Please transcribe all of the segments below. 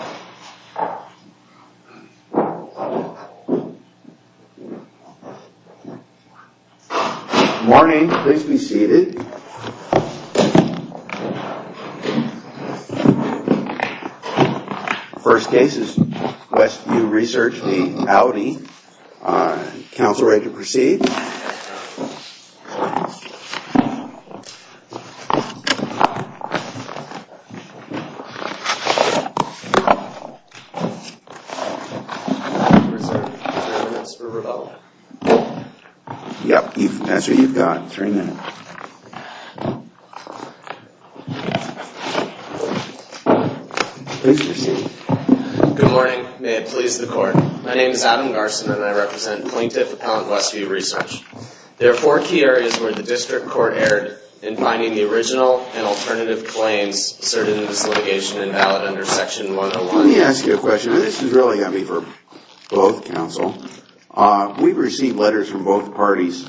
Good morning. Please be seated. First case is West View Research, the Audi. Counselor, ready to proceed? Good morning. May it please the Court. My name is Adam Garson and I represent Plaintiff Appellant West View Research. There are four key areas where the District Court erred in finding the original and alternative claims asserted in this litigation invalid under Section 101. Let me ask you a question. This is really going to be for both counsel. We've received letters from both parties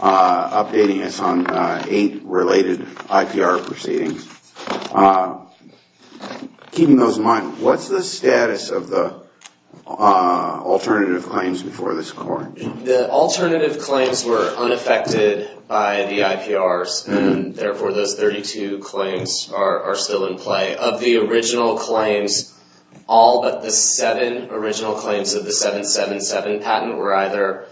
updating us on eight related IPR proceedings. Keeping those in mind, what's the status of the alternative claims before this Court? The alternative claims were unaffected by the IPRs and therefore those 32 claims are still in play. Of the original claims, all but the seven original claims of the 777 patent were either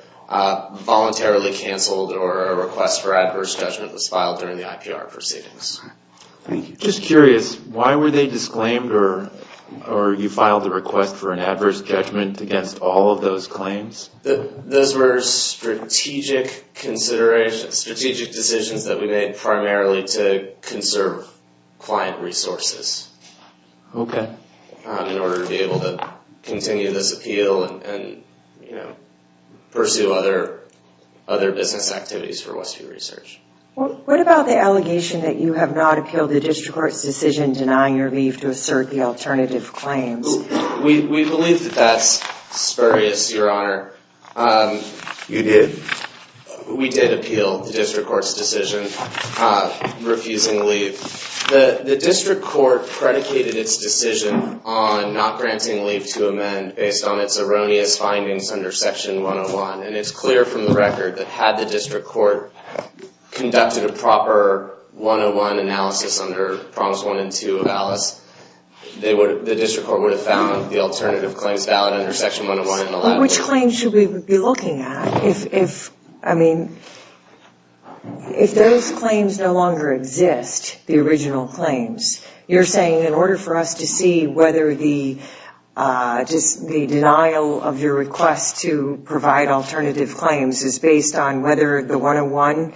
voluntarily canceled or a request for adverse judgment was filed during the IPR proceedings. Thank you. Just curious, why were they disclaimed or you filed a request for an adverse judgment against all of those claims? Those were strategic considerations, strategic decisions that we made primarily to conserve client resources in order to be able to continue this appeal and pursue other business activities for West View Research. What about the allegation that you have not appealed the District Court's decision denying your leave to assert the alternative claims? We believe that that's spurious, Your Honor. You did? We did appeal the District Court's decision refusing leave. The District Court predicated its decision on not granting leave to amend based on its erroneous findings under Section 101. It's clear from the record that had the District Court conducted a proper 101 analysis under Prompts 1 and 2 of Alice, the District Court would have found the alternative claims valid under Section 101. Which claims should we be looking at if those claims no longer exist, the original claims? You're saying in order for us to see whether the denial of your request to provide alternative claims is based on whether the 101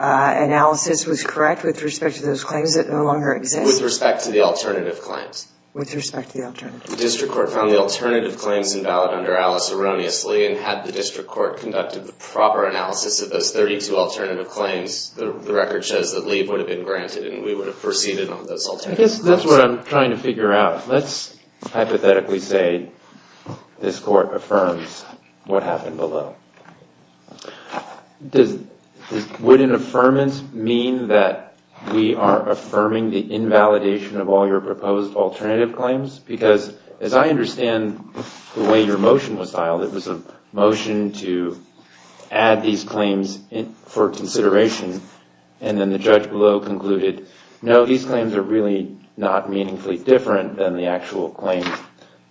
analysis was correct with respect to those claims that no longer exist? With respect to the alternative claims. With respect to the alternative claims. The District Court found the alternative claims invalid under Alice erroneously, and had the District Court conducted the proper analysis of those 32 alternative claims, the record says that leave would have been granted and we would have proceeded on those alternative claims. I guess that's what I'm trying to figure out. Let's hypothetically say this Court affirms what happened below. Would an affirmance mean that we are affirming the invalidation of all your proposed alternative claims? Because as I understand the way your motion was filed, it was a motion to add these claims for consideration, and then the judge below concluded, no, these claims are really not meaningfully different than the actual claims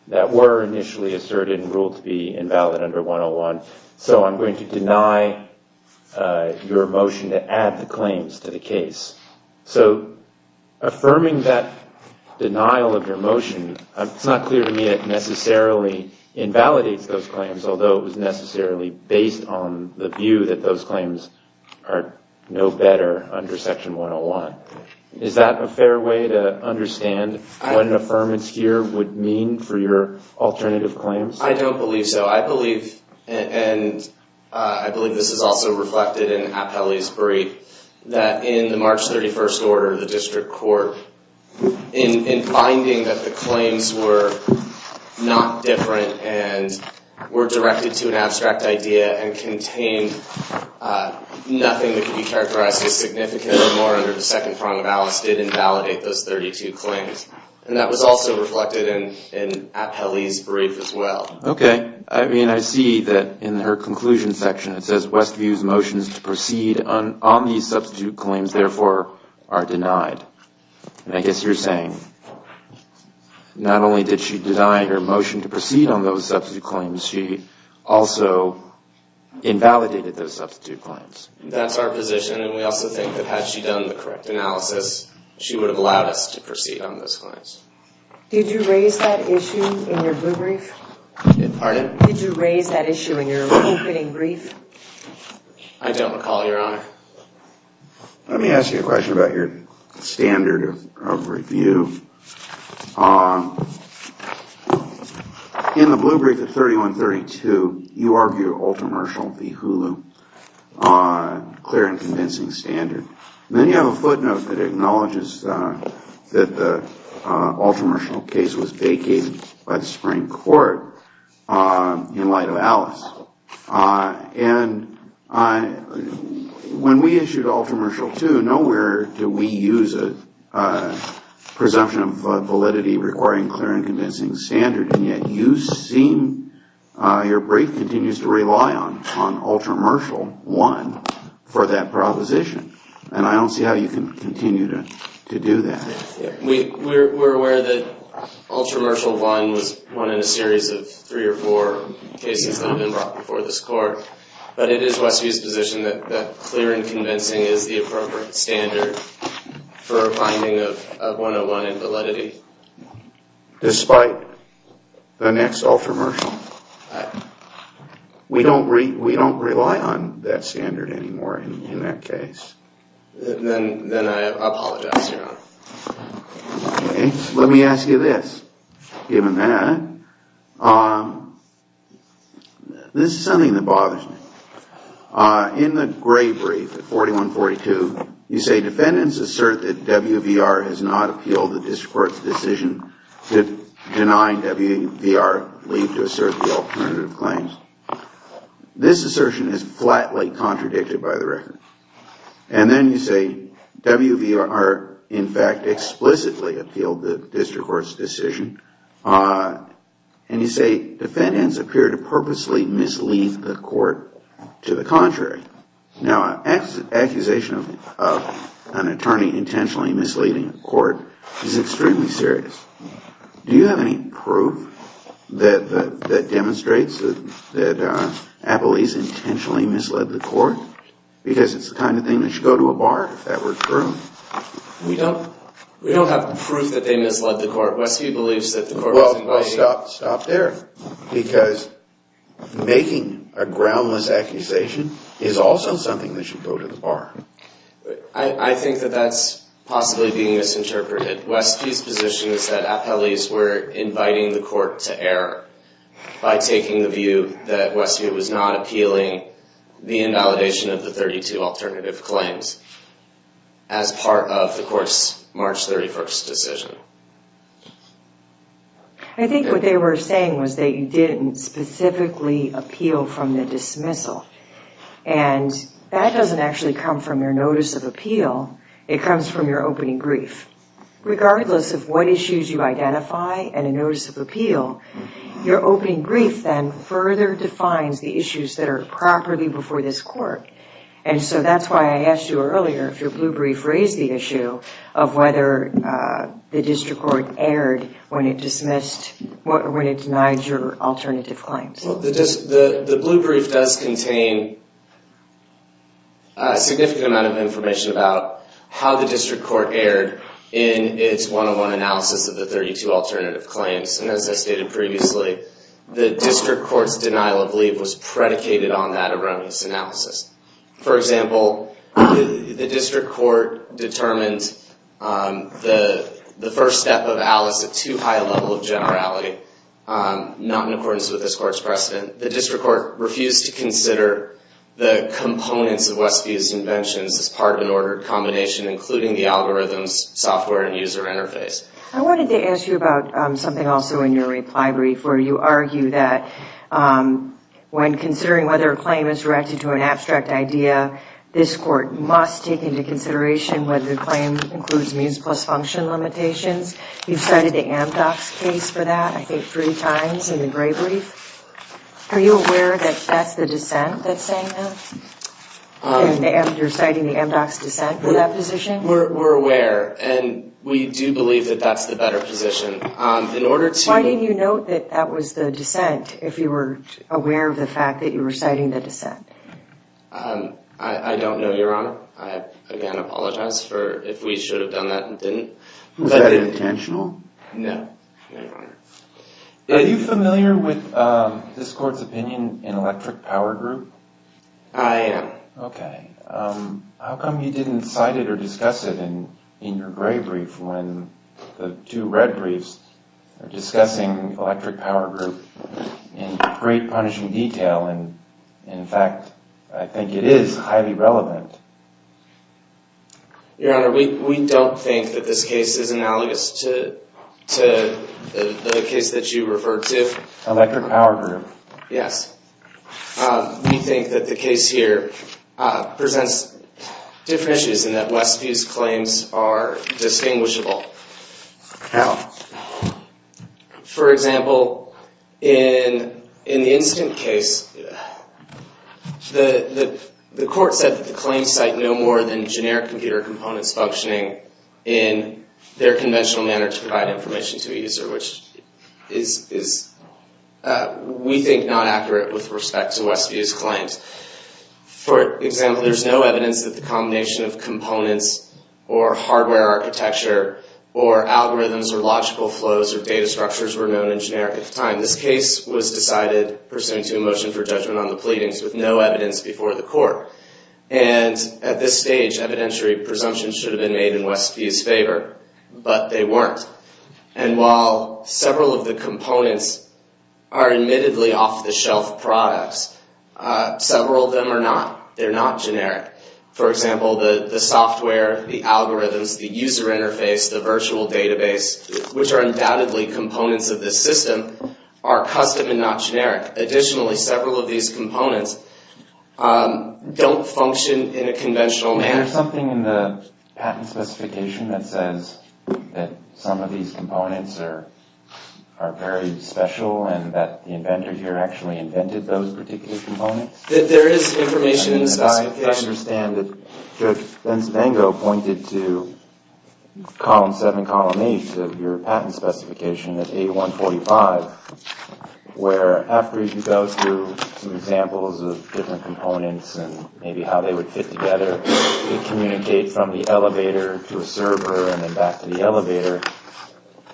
that were initially asserted and ruled to be invalid under 101, so I'm going to deny your motion to add the claims to the case. So affirming that denial of your motion, it's not clear to me that it necessarily invalidates those claims, although it was necessarily based on the view that those claims are no better under Section 101. Is that a fair way to understand what an affirmance here would mean for your alternative claims? I don't believe so. I believe, and I believe this is also reflected in Appellee's brief, that in the March 31st order, the District Court, in finding that the claims were not different and were directed to an abstract idea and contained nothing that could be characterized as significant or more under the second prong of Alice, did invalidate those 32 claims. And that was also reflected in Appellee's brief as well. Okay. I mean, I see that in her conclusion section it says, Westview's motion is to proceed on these substitute claims, therefore are denied. And I guess you're saying, not only did she deny her motion to proceed on those substitute claims, she also invalidated those substitute claims. That's our position, and we also think that had she done the correct analysis, she would have allowed us to proceed on those claims. Did you raise that issue in your blue brief? Pardon? Did you raise that issue in your opening brief? I don't recall, Your Honor. Let me ask you a question about your standard of review. In the blue brief of 3132, you argue ultra-martial, the Hulu, clear and convincing standard. Then you have a footnote that acknowledges that the ultra-martial case was vacated by the Supreme Court in light of Alice. And when we issued ultra-martial 2, nowhere do we use a presumption of validity requiring clear and convincing standard, and yet you seem, your brief continues to rely on ultra-martial 1 for that proposition. And I don't see how you can continue to do that. We're aware that ultra-martial 1 was one in a series of three or four cases that have been brought before this Court, but it is Westview's position that clear and convincing is the appropriate standard for a finding of 101 in validity. Despite the next ultra-martial. We don't rely on that standard anymore in that case. Then I apologize, Your Honor. Let me ask you this. Given that, this is something that bothers me. In the gray brief, 4142, you say defendants assert that WVR has not appealed the district court's decision to deny WVR leave to assert the alternative claims. This assertion is flatly contradicted by the record. And then you say WVR, in fact, explicitly appealed the district court's decision. And you say defendants appear to purposely mislead the court to the contrary. Now, an accusation of an attorney intentionally misleading the court is extremely serious. Do you have any proof that demonstrates that Appellee's intentionally misled the court? Because it's the kind of thing that should go to a bar if that were true. We don't have proof that they misled the court. Westview believes that the court was inviting... Stop there. Because making a groundless accusation is also something that should go to the bar. I think that that's possibly being misinterpreted. Westview's position is that Appellee's were inviting the court to error by taking the view that Westview was not appealing the invalidation of the 32 alternative claims as part of the I think what they were saying was that you didn't specifically appeal from the dismissal. And that doesn't actually come from your notice of appeal. It comes from your opening brief. Regardless of what issues you identify in a notice of appeal, your opening brief then further defines the issues that are properly before this court. And so that's why I asked you earlier if your blue brief raised the issue of whether the district court erred when it denied your alternative claims. The blue brief does contain a significant amount of information about how the district court erred in its one-on-one analysis of the 32 alternative claims. And as I stated previously, the district court's denial of leave was predicated on that erroneous analysis. For example, the district court determined the first step of Alice at too high a level of generality, not in accordance with this court's precedent. The district court refused to consider the components of Westview's inventions as part of an ordered combination, including the algorithms, software, and user interface. I wanted to ask you about something also in your reply brief where you argue that when considering whether a claim is directed to an abstract idea, this court must take into consideration whether the claim includes means plus function limitations. You've cited the MDOX case for that, I think, three times in the gray brief. Are you aware that that's the dissent that's saying that? You're citing the MDOX dissent for that position? We're aware, and we do believe that that's the better position. Why did you note that that was the dissent if you were aware of the fact that you were citing the dissent? I don't know, Your Honor. I, again, apologize for if we should have done that and didn't. Was that intentional? No, Your Honor. Are you familiar with this court's opinion in Electric Power Group? I am. Okay. How come you didn't cite it or discuss it in your gray brief when the two red briefs are discussing Electric Power Group in great, punishing detail, and, in fact, I think it is highly relevant? Your Honor, we don't think that this case is analogous to the case that you referred to. Electric Power Group? Yes. We think that the case here presents different issues and that Westview's claims are distinguishable. How? For example, in the incident case, the court said that the claims cite no more than generic computer components functioning in their conventional manner to provide information to a user, which is, we think, not accurate with respect to Westview's claims. For example, there's no evidence that the combination of components or hardware architecture or algorithms or logical flows or data structures were known in generic at the time. This case was decided pursuant to a motion for judgment on the pleadings with no evidence before the court. And at this stage, evidentiary presumptions should have been made in Westview's favor, but they weren't. And while several of the components are admittedly off-the-shelf products, several of them are not. They're not generic. For example, the software, the algorithms, the user interface, the virtual database, which are undoubtedly components of this system, are custom and not generic. Additionally, several of these components don't function in a conventional manner. Is there something in the patent specification that says that some of these components are very special and that the inventor here actually invented those particular components? There is information in the specification. I understand that Judge Benspango pointed to Column 7, Column 8 of your patent specification at A145, where after you go through some examples of different components and maybe how they would fit together, it communicates from the elevator to a server and then back to the elevator.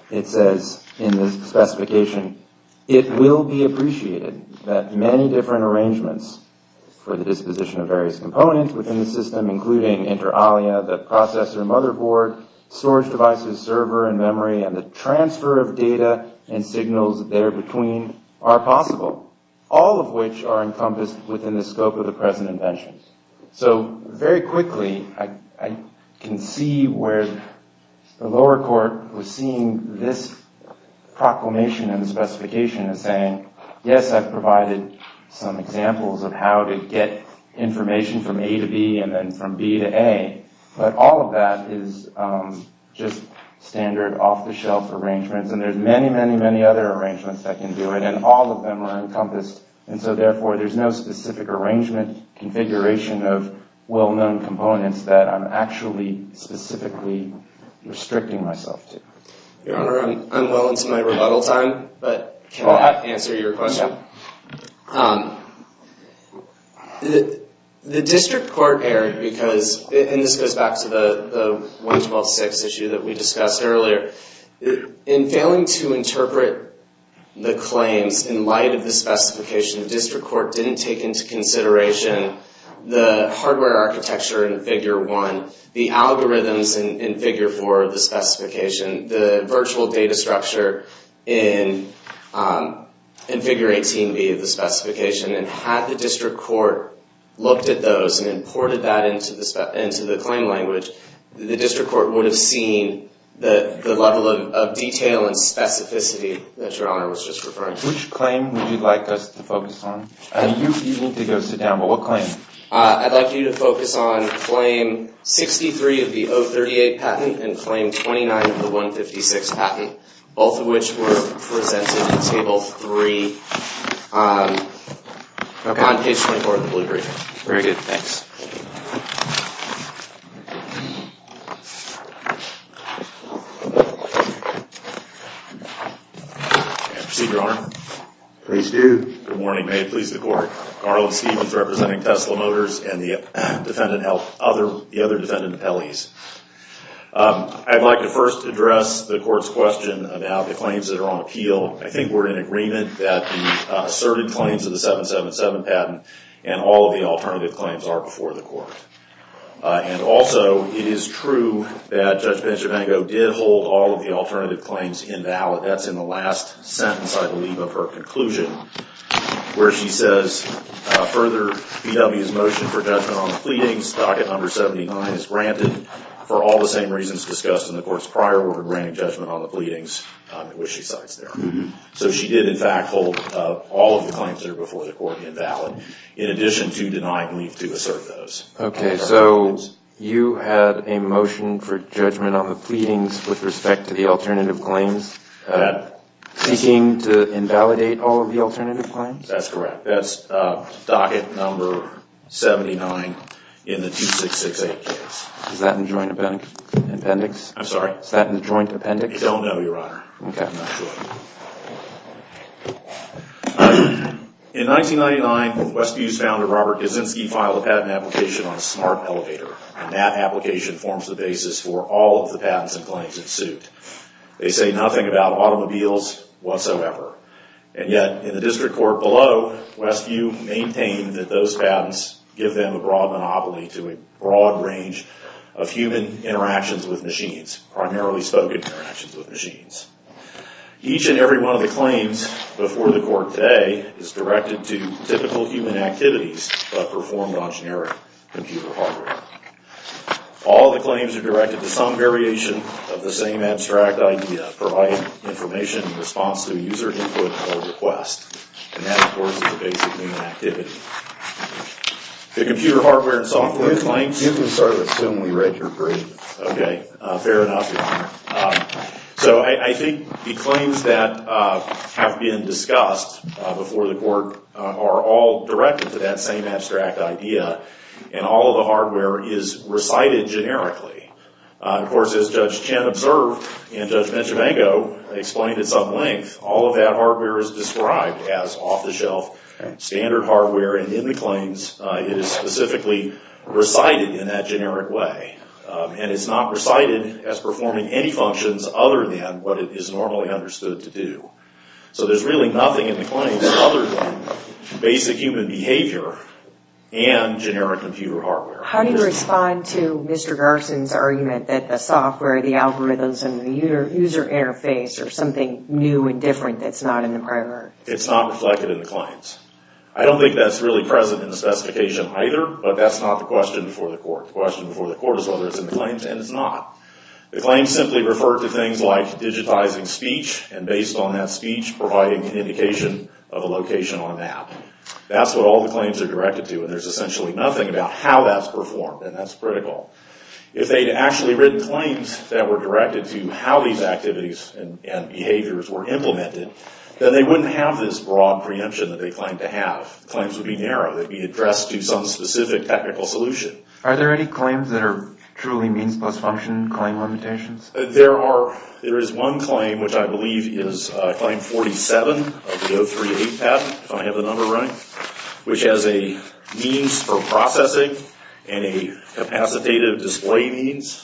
It says in the specification, it will be appreciated that many different arrangements for the disposition of various components within the system, including inter alia, the processor, motherboard, storage devices, server, and memory, and the transfer of data and signals there between are possible, all of which are encompassed within the scope of the present inventions. So, very quickly, I can see where the lower court was seeing this proclamation in the specification as saying, yes, I've provided some examples of how to get information from A to B and then from B to A, but all of that is just standard off-the-shelf arrangements, and there's many, many, many other arrangements that can do it, and all of them are encompassed, and so, therefore, there's no specific arrangement configuration of well-known components that I'm actually specifically restricting myself to. Your Honor, I'm well into my rebuttal time, but can I answer your question? Yeah. The district court erred because, and this goes back to the 1126 issue that we discussed earlier, in failing to interpret the claims in light of the specification, the district court didn't take into consideration the hardware architecture in Figure 1, the algorithms in Figure 4 of the specification, the virtual data structure in Figure 18B of the specification, and had the district court looked at those and imported that into the claim language, the district court would have seen the level of detail and specificity that Your Honor was just referring to. Which claim would you like us to focus on? You need to go sit down, but what claim? I'd like you to focus on Claim 63 of the 038 patent and Claim 29 of the 156 patent, both of which were presented in Table 3 on Page 24 of the Blue Brief. Very good. Thanks. Proceed, Your Honor. Please do. Good morning. May it please the Court. Garland Stephens representing Tesla Motors and the other defendant appellees. I'd like to first address the Court's question about the claims that are on appeal. I think we're in agreement that the asserted claims of the 777 patent and all of the alternative claims are before the Court. And also, it is true that Judge Benjamingo did hold all of the alternative claims invalid. That's in the last sentence, I believe, of her conclusion, where she says, further B.W.'s motion for judgment on the pleadings, Docket Number 79 is granted, for all the same reasons discussed in the Court's prior order granting judgment on the pleadings, which she cites there. So she did, in fact, hold all of the claims that are before the Court invalid, in addition to denying leave to assert those. Okay, so you had a motion for judgment on the pleadings with respect to the alternative claims, seeking to invalidate all of the alternative claims? That's correct. That's Docket Number 79 in the 2668 case. Is that in the joint appendix? I'm sorry? Is that in the joint appendix? I don't know, Your Honor. Okay. I'm not sure. In 1999, Westview's founder, Robert Kaczynski, filed a patent application on Smart Elevator. And that application forms the basis for all of the patents and claims that suit. They say nothing about automobiles whatsoever. And yet, in the district court below, Westview maintained that those patents give them a broad monopoly to a broad range of human interactions with machines, primarily spoken interactions with machines. Each and every one of the claims before the Court today is directed to typical human activities, but performed on generic computer hardware. All of the claims are directed to some variation of the same abstract idea, providing information in response to a user input or request. And that, of course, is a basic human activity. The computer hardware and software claims— You can start with when we read your brief. Okay. Fair enough, Your Honor. So I think the claims that have been discussed before the Court are all directed to that same abstract idea. And all of the hardware is recited generically. Of course, as Judge Chen observed and Judge Benchimago explained at some length, all of that hardware is described as off-the-shelf, standard hardware. And in the claims, it is specifically recited in that generic way. And it's not recited as performing any functions other than what it is normally understood to do. So there's really nothing in the claims other than basic human behavior and generic computer hardware. How do you respond to Mr. Garson's argument that the software, the algorithms, and the user interface are something new and different that's not in the primary? It's not reflected in the claims. I don't think that's really present in the specification either, but that's not the question before the Court. The question before the Court is whether it's in the claims, and it's not. The claims simply refer to things like digitizing speech and, based on that speech, providing an indication of a location on an app. That's what all the claims are directed to, and there's essentially nothing about how that's performed, and that's critical. If they'd actually written claims that were directed to how these activities and behaviors were implemented, then they wouldn't have this broad preemption that they claim to have. The claims would be narrow. They'd be addressed to some specific technical solution. Are there any claims that are truly means-plus-function claim limitations? There is one claim, which I believe is Claim 47 of the 038 patent, if I have the number right, which has a means for processing and a capacitative display means.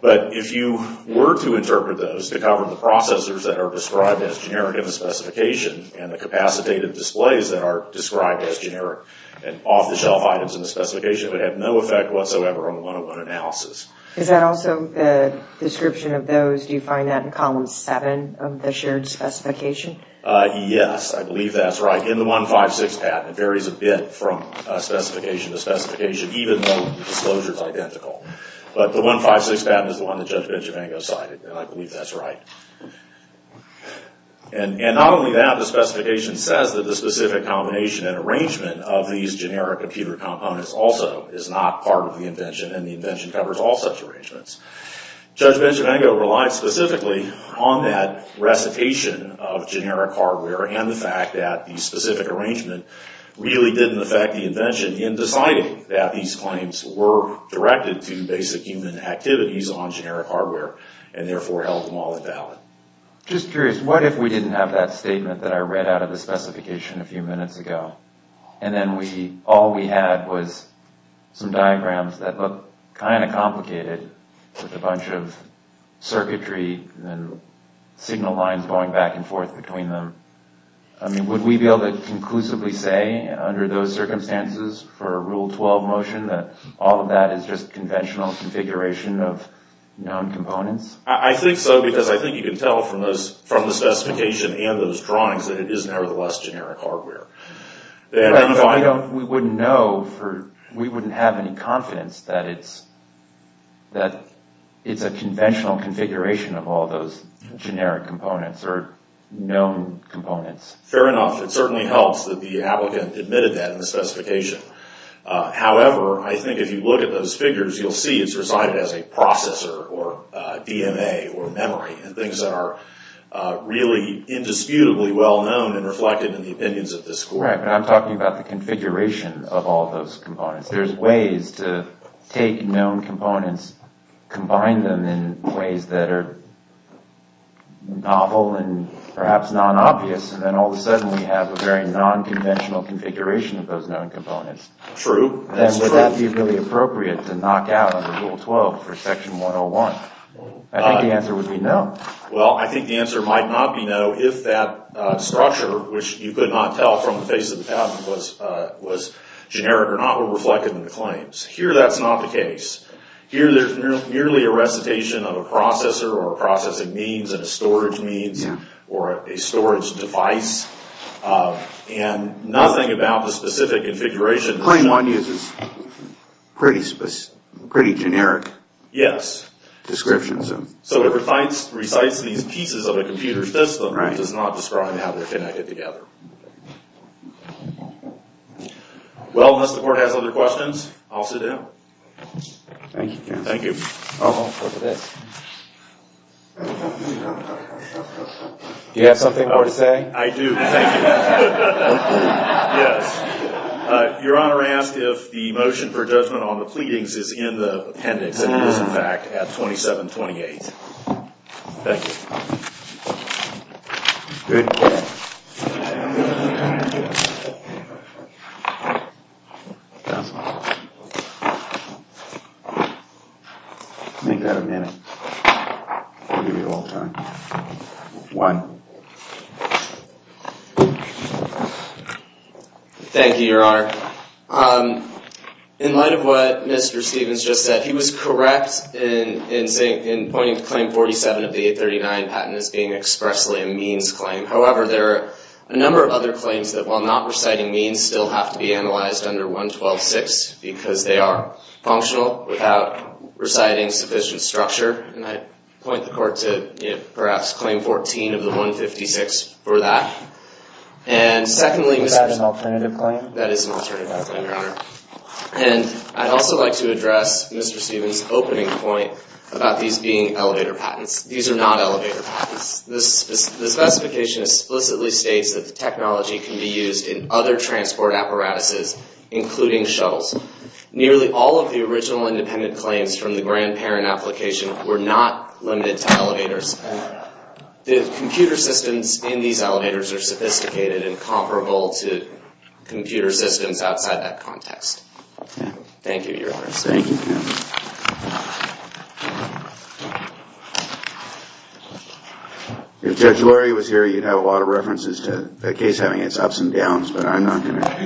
But if you were to interpret those to cover the processors that are described as generic in the specification and the capacitative displays that are described as generic and off-the-shelf items in the specification, it would have no effect whatsoever on the 101 analysis. Is that also the description of those? Do you find that in Column 7 of the shared specification? Yes, I believe that's right. In the 156 patent, it varies a bit from specification to specification, even though the disclosure is identical. But the 156 patent is the one that Judge Benchimango cited, and I believe that's right. And not only that, the specification says that the specific combination and arrangement of these generic computer components also is not part of the invention, and the invention covers all such arrangements. Judge Benchimango relied specifically on that recitation of generic hardware and the fact that the specific arrangement really didn't affect the invention in deciding that these claims were directed to basic human activities on generic hardware, and therefore held them all invalid. Just curious, what if we didn't have that statement that I read out of the specification a few minutes ago, and then all we had was some diagrams that look kind of complicated with a bunch of circuitry and signal lines going back and forth between them? I mean, would we be able to conclusively say under those circumstances for a Rule 12 motion that all of that is just conventional configuration of known components? I think so, because I think you can tell from the specification and those drawings that it is nevertheless generic hardware. Right, but we wouldn't know, we wouldn't have any confidence that it's a conventional configuration of all those generic components or known components. Fair enough. It certainly helps that the applicant admitted that in the specification. However, I think if you look at those figures, you'll see it's recited as a processor or DMA or memory, and things that are really indisputably well-known and reflected in the opinions of this Court. Right, but I'm talking about the configuration of all those components. There's ways to take known components, combine them in ways that are novel and perhaps non-obvious, and then all of a sudden we have a very non-conventional configuration of those known components. True, that's true. Would that be really appropriate to knock out under Rule 12 for Section 101? I think the answer would be no. Well, I think the answer might not be no if that structure, which you could not tell from the face of the patent, was generic or not reflected in the claims. Here, that's not the case. Here, there's merely a recitation of a processor or a processing means and a storage means or a storage device, and nothing about the specific configuration. 21 is pretty generic. Yes. Description. So it recites these pieces of a computer system that does not describe how they're connected together. Well, unless the Court has other questions, I'll sit down. Thank you, counsel. Thank you. Oh, look at this. Do you have something more to say? I do. Thank you. Yes. Your Honor, I asked if the motion for judgment on the pleadings is in the appendix, and it is, in fact, at 2728. Thank you. Good guess. Make that a minute. I'll give you all time. One. Thank you, Your Honor. In light of what Mr. Stevens just said, he was correct in pointing to Claim 47 of the 839 patent as being expressly a means claim. However, there are a number of other claims that, while not reciting means, still have to be analyzed under 112.6 because they are functional without reciting sufficient structure, and I point the Court to perhaps Claim 14 of the 156 for that. And secondly, Mr. Stevens. Is that an alternative claim? That is an alternative claim, Your Honor. And I'd also like to address Mr. Stevens' opening point about these being elevator patents. These are not elevator patents. The specification explicitly states that the technology can be used in other transport apparatuses, including shuttles. Nearly all of the original independent claims from the grandparent application were not limited to elevators. The computer systems in these elevators are sophisticated and comparable to computer systems outside that context. Thank you, Your Honor. Thank you. If Judge Lurie was here, you'd have a lot of references to the case having its ups and downs, but I'm not going to.